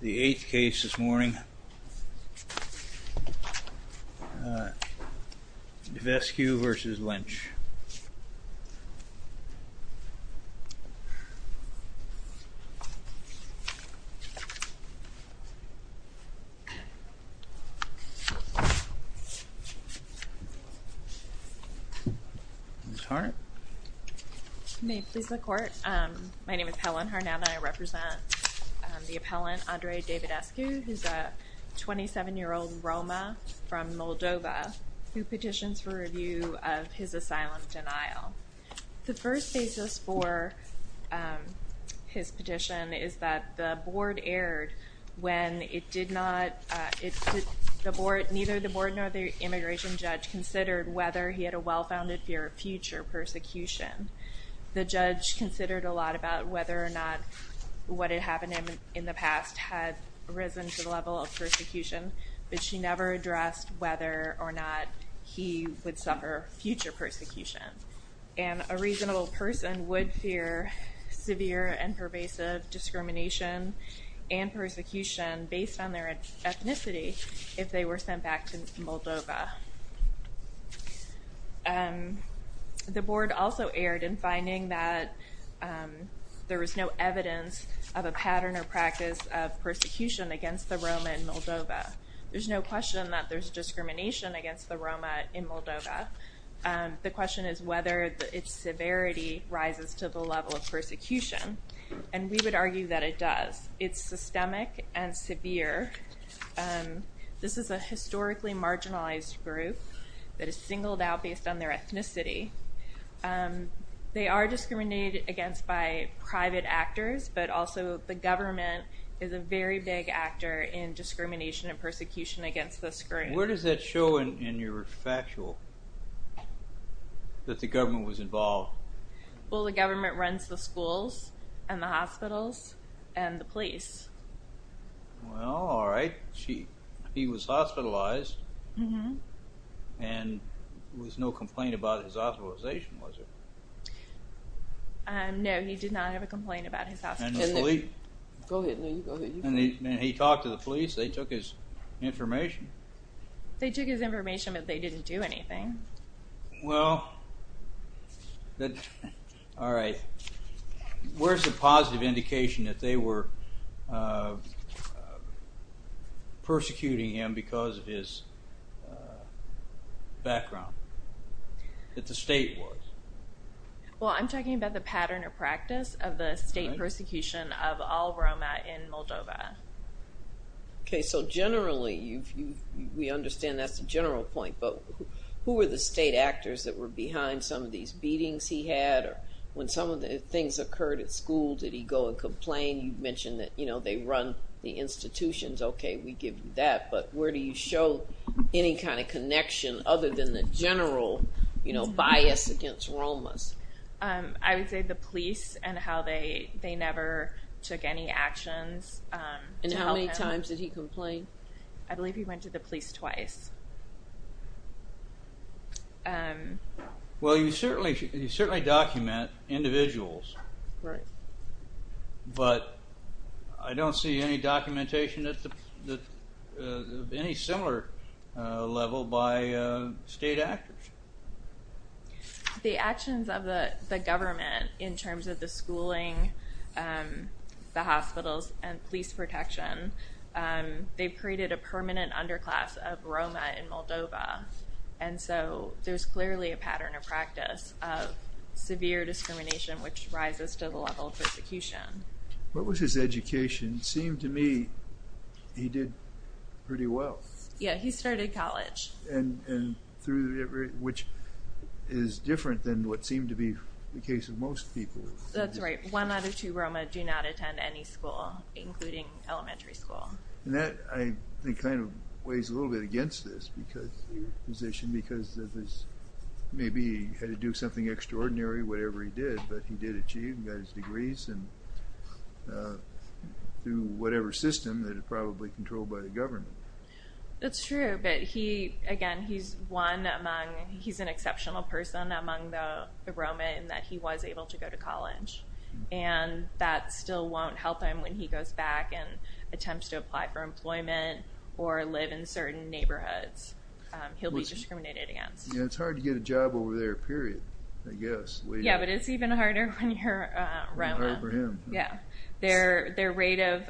The 8th case this morning, Davidescu v. Lynch. I represent the appellant Andrei Davidescu, who is a 27-year-old Roma from Moldova who petitions for review of his asylum denial. The first basis for his petition is that the board erred when neither the board nor the The judge considered a lot about whether or not what had happened to him in the past had risen to the level of persecution, but she never addressed whether or not he would suffer future persecution. And a reasonable person would fear severe and pervasive discrimination and persecution based on their ethnicity if they were sent back to Moldova. The board also erred in finding that there was no evidence of a pattern or practice of persecution against the Roma in Moldova. There's no question that there's discrimination against the Roma in Moldova. The question is whether its severity rises to the level of persecution, and we would argue that it does. It's systemic and severe. This is a historically marginalized group that is singled out based on their ethnicity. They are discriminated against by private actors, but also the government is a very big actor in discrimination and persecution against this group. Where does that show in your factual that the government was involved? Well, the government runs the schools and the hospitals and the police. Well, all right. He was hospitalized and there was no complaint about his hospitalization, was there? No, he did not have a complaint about his hospitalization. And the police? Go ahead. No, you go ahead. And he talked to the police. They took his information. They took his information, but they didn't do anything. Well, all right. Where's the positive indication that they were persecuting him because of his background, that the state was? Well, I'm talking about the pattern or practice of the state persecution of all Roma in Moldova. Okay. So generally, we understand that's the general point, but who were the state actors that were behind some of these beatings he had? When some of the things occurred at school, did he go and complain? You mentioned that they run the institutions. Okay, we give you that, but where do you show any kind of connection other than the general bias against Romas? I would say the police and how they never took any actions to help him. And how many times did he complain? I believe he went to the police twice. Well, you certainly document individuals. Right. But I don't see any documentation of any similar level by state actors. The actions of the government in terms of the schooling, the hospitals, and police protection, they created a permanent underclass of Roma in Moldova. And so there's clearly a pattern of practice of severe discrimination, which rises to the level of persecution. What was his education? It seemed to me he did pretty well. Yeah, he started college. Which is different than what seemed to be the case of most people. That's right. One out of two Roma do not attend any school, including elementary school. And that, I think, kind of weighs a little bit against this position because maybe he had to do something extraordinary, whatever he did, but he did achieve and got his degrees and do whatever system that is probably controlled by the government. That's true. But he, again, he's one among, he's an exceptional person among the Roma in that he was able to go to college. And that still won't help him when he goes back and attempts to apply for employment or live in certain neighborhoods. He'll be discriminated against. Yeah, it's hard to get a job over there, period, I guess. Yeah, but it's even harder when you're a Roma. Even harder for him. Yeah. Their rate of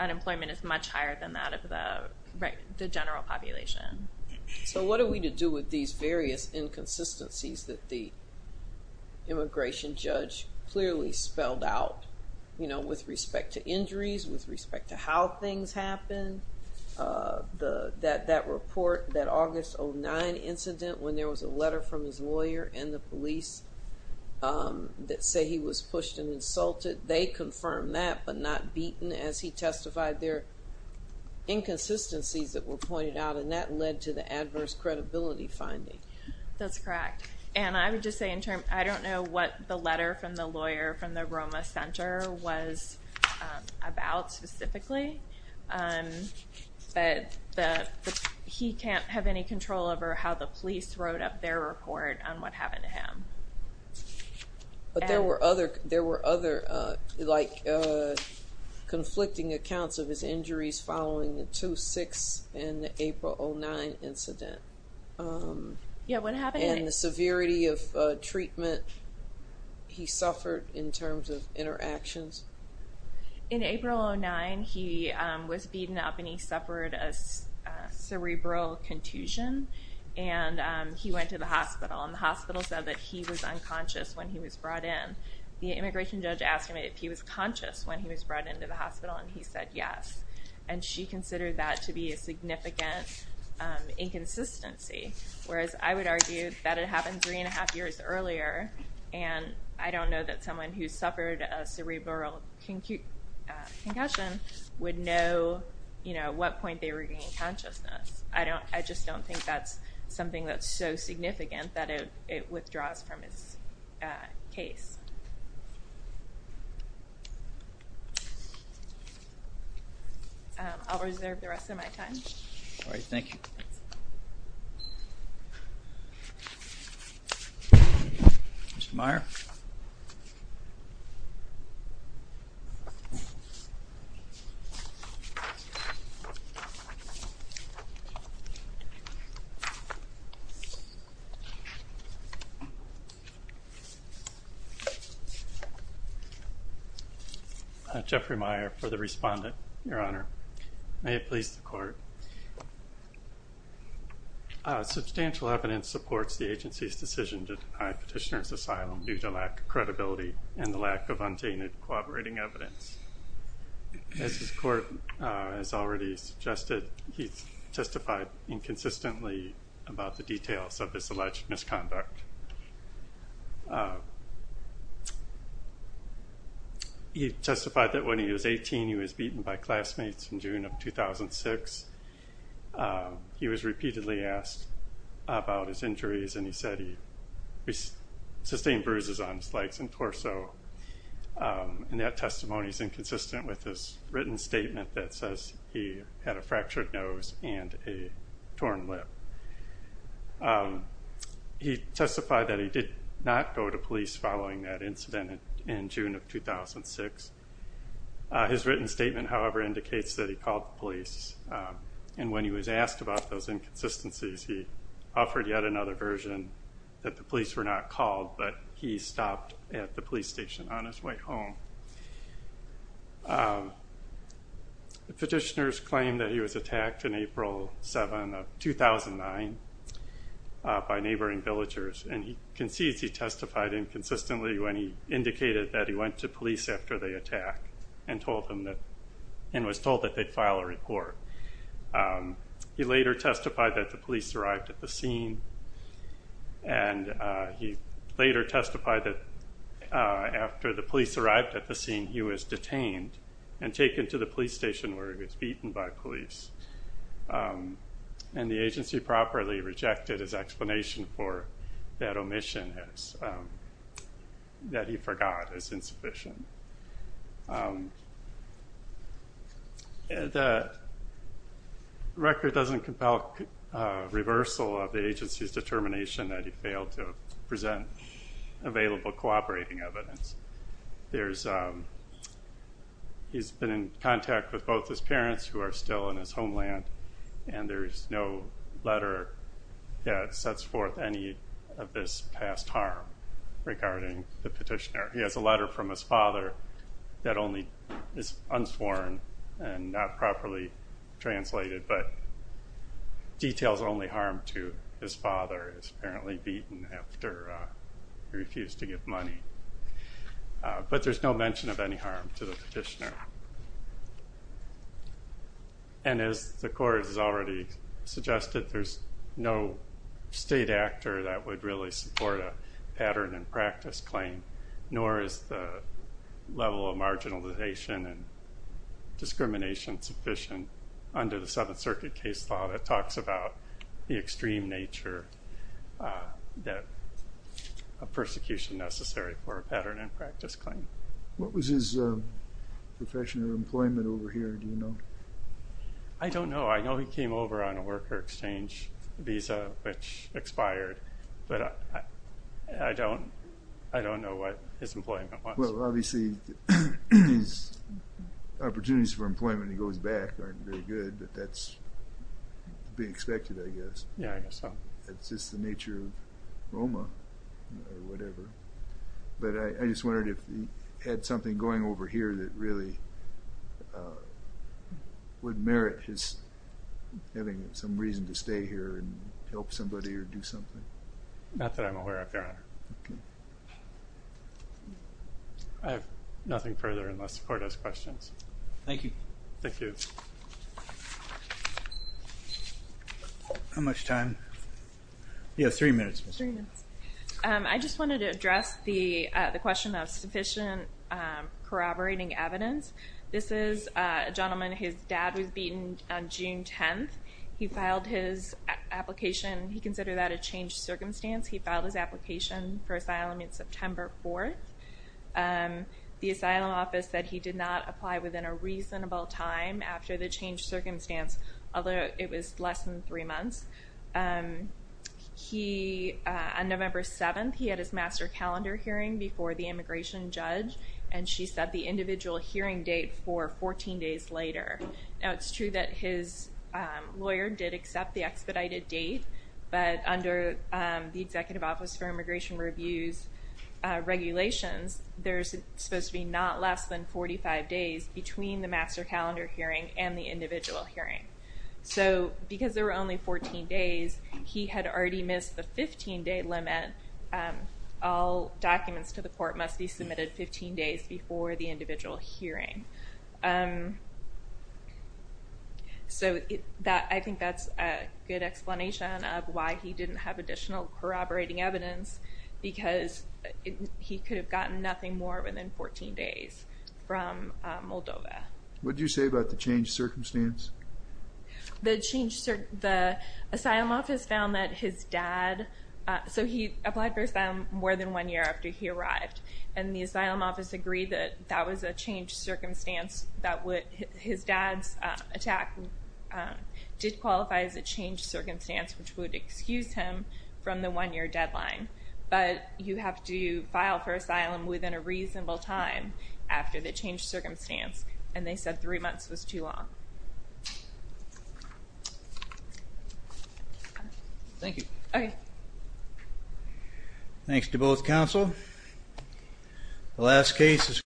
unemployment is much higher than that of the general population. So what are we to do with these various inconsistencies that the immigration judge clearly spelled out, you know, with respect to injuries, with respect to how things happen, that report, that August 09 incident when there was a letter from his lawyer and the police that say he was pushed and insulted. They confirmed that, but not beaten as he testified their inconsistencies that were pointed out, and that led to the adverse credibility finding. That's correct. And I would just say in terms, I don't know what the letter from the lawyer from the Roma Center was about specifically, but the, he can't have any control over how the police wrote up their report on what happened to him. But there were other, there were other, like, conflicting accounts of his injuries following the 2-6 and the April 09 incident. Yeah, what happened? And the severity of treatment he suffered in terms of interactions. In April 09, he was beaten up and he suffered a cerebral contusion and he went to the hospital and the hospital said that he was unconscious when he was brought in. The immigration judge asked him if he was conscious when he was brought into the hospital and he said yes. And she considered that to be a significant inconsistency, whereas I would argue that it happened three and a half years earlier and I don't know that someone who suffered a cerebral concussion would know, you know, at what point they regain consciousness. I just don't think that's something that's so significant that it withdraws from his case. I'll reserve the rest of my time. All right, thank you. Mr. Meyer. Jeffrey Meyer for the respondent, Your Honor. May it please the Court. Substantial evidence supports the agency's decision to deny Petitioner's asylum due to lack of credibility and the lack of untainted corroborating evidence. As the Court has already suggested, he testified inconsistently about the details of his alleged misconduct. He testified that when he was 18, he was beaten by classmates in June of 2006. He was repeatedly asked about his injuries and he said he sustained bruises on his legs and torso. And that testimony is inconsistent with his written statement that says he had a fractured nose and a torn lip. He testified that he did not go to police following that incident in June of 2006. His written statement, however, indicates that he called the police and when he was asked about those inconsistencies, he offered yet another version that the police were not called, but he stopped at the police station on his way home. Petitioner's claim that he was attacked in April 7 of 2009 by neighboring villagers, and he concedes he testified inconsistently when he indicated that he went to police after the attack and was told that they'd file a report. He later testified that the police arrived at the scene and he later testified that after the police arrived at the scene he was detained and taken to the police station where he was beaten by police. And the agency properly rejected his explanation for that omission that he forgot is insufficient. The record doesn't compel reversal of the agency's determination that he failed to present available cooperating evidence. He's been in contact with both his parents who are still in his homeland and there's no letter that sets forth any of this past harm regarding the petitioner. He has a letter from his father that is only unsworn and not properly translated, but details only harm to his father is apparently beaten after he refused to give money. But there's no mention of any harm to the petitioner. And as the court has already suggested, there's no state actor that would really support a pattern and practice claim nor is the level of marginalization and discrimination sufficient under the Seventh Circuit case law that talks about the extreme nature of persecution necessary for a pattern and practice claim. What was his profession or employment over here, do you know? I don't know. I know he came over on a worker exchange visa which expired. But I don't know what his employment was. Well, obviously his opportunities for employment when he goes back aren't very good, but that's to be expected, I guess. Yeah, I guess so. It's just the nature of Roma or whatever. But I just wondered if he had something going over here that really would merit his having some reason to stay here and help somebody or do something. Not that I'm aware of, Your Honor. I have nothing further unless the court has questions. Thank you. Thank you. How much time? Yeah, three minutes. Three minutes. I just wanted to address the question of sufficient corroborating evidence. This is a gentleman, his dad was beaten on June 10th. He filed his application. He considered that a changed circumstance. He filed his application for asylum on September 4th. The asylum office said he did not apply within a reasonable time after the changed circumstance, although it was less than three months. On November 7th, he had his master calendar hearing before the immigration judge, and she set the individual hearing date for 14 days later. Now, it's true that his lawyer did accept the expedited date, but under the Executive Office for Immigration Review's regulations, there's supposed to be not less than 45 days between the master calendar hearing and the individual hearing. So, because there were only 14 days, he had already missed the 15-day limit. All documents to the court must be submitted 15 days before the individual hearing. So, I think that's a good explanation of why he didn't have additional corroborating evidence, because he could have gotten nothing more within 14 days from Moldova. What did you say about the changed circumstance? The asylum office found that his dad... So, he applied for asylum more than one year after he arrived, and the asylum office agreed that that was a changed circumstance that his dad's attack did qualify as a changed circumstance, which would excuse him from the one-year deadline. But you have to file for asylum within a reasonable time after the changed circumstance, and they said three months was too long. Thank you. Thanks to both counsel. The last case is...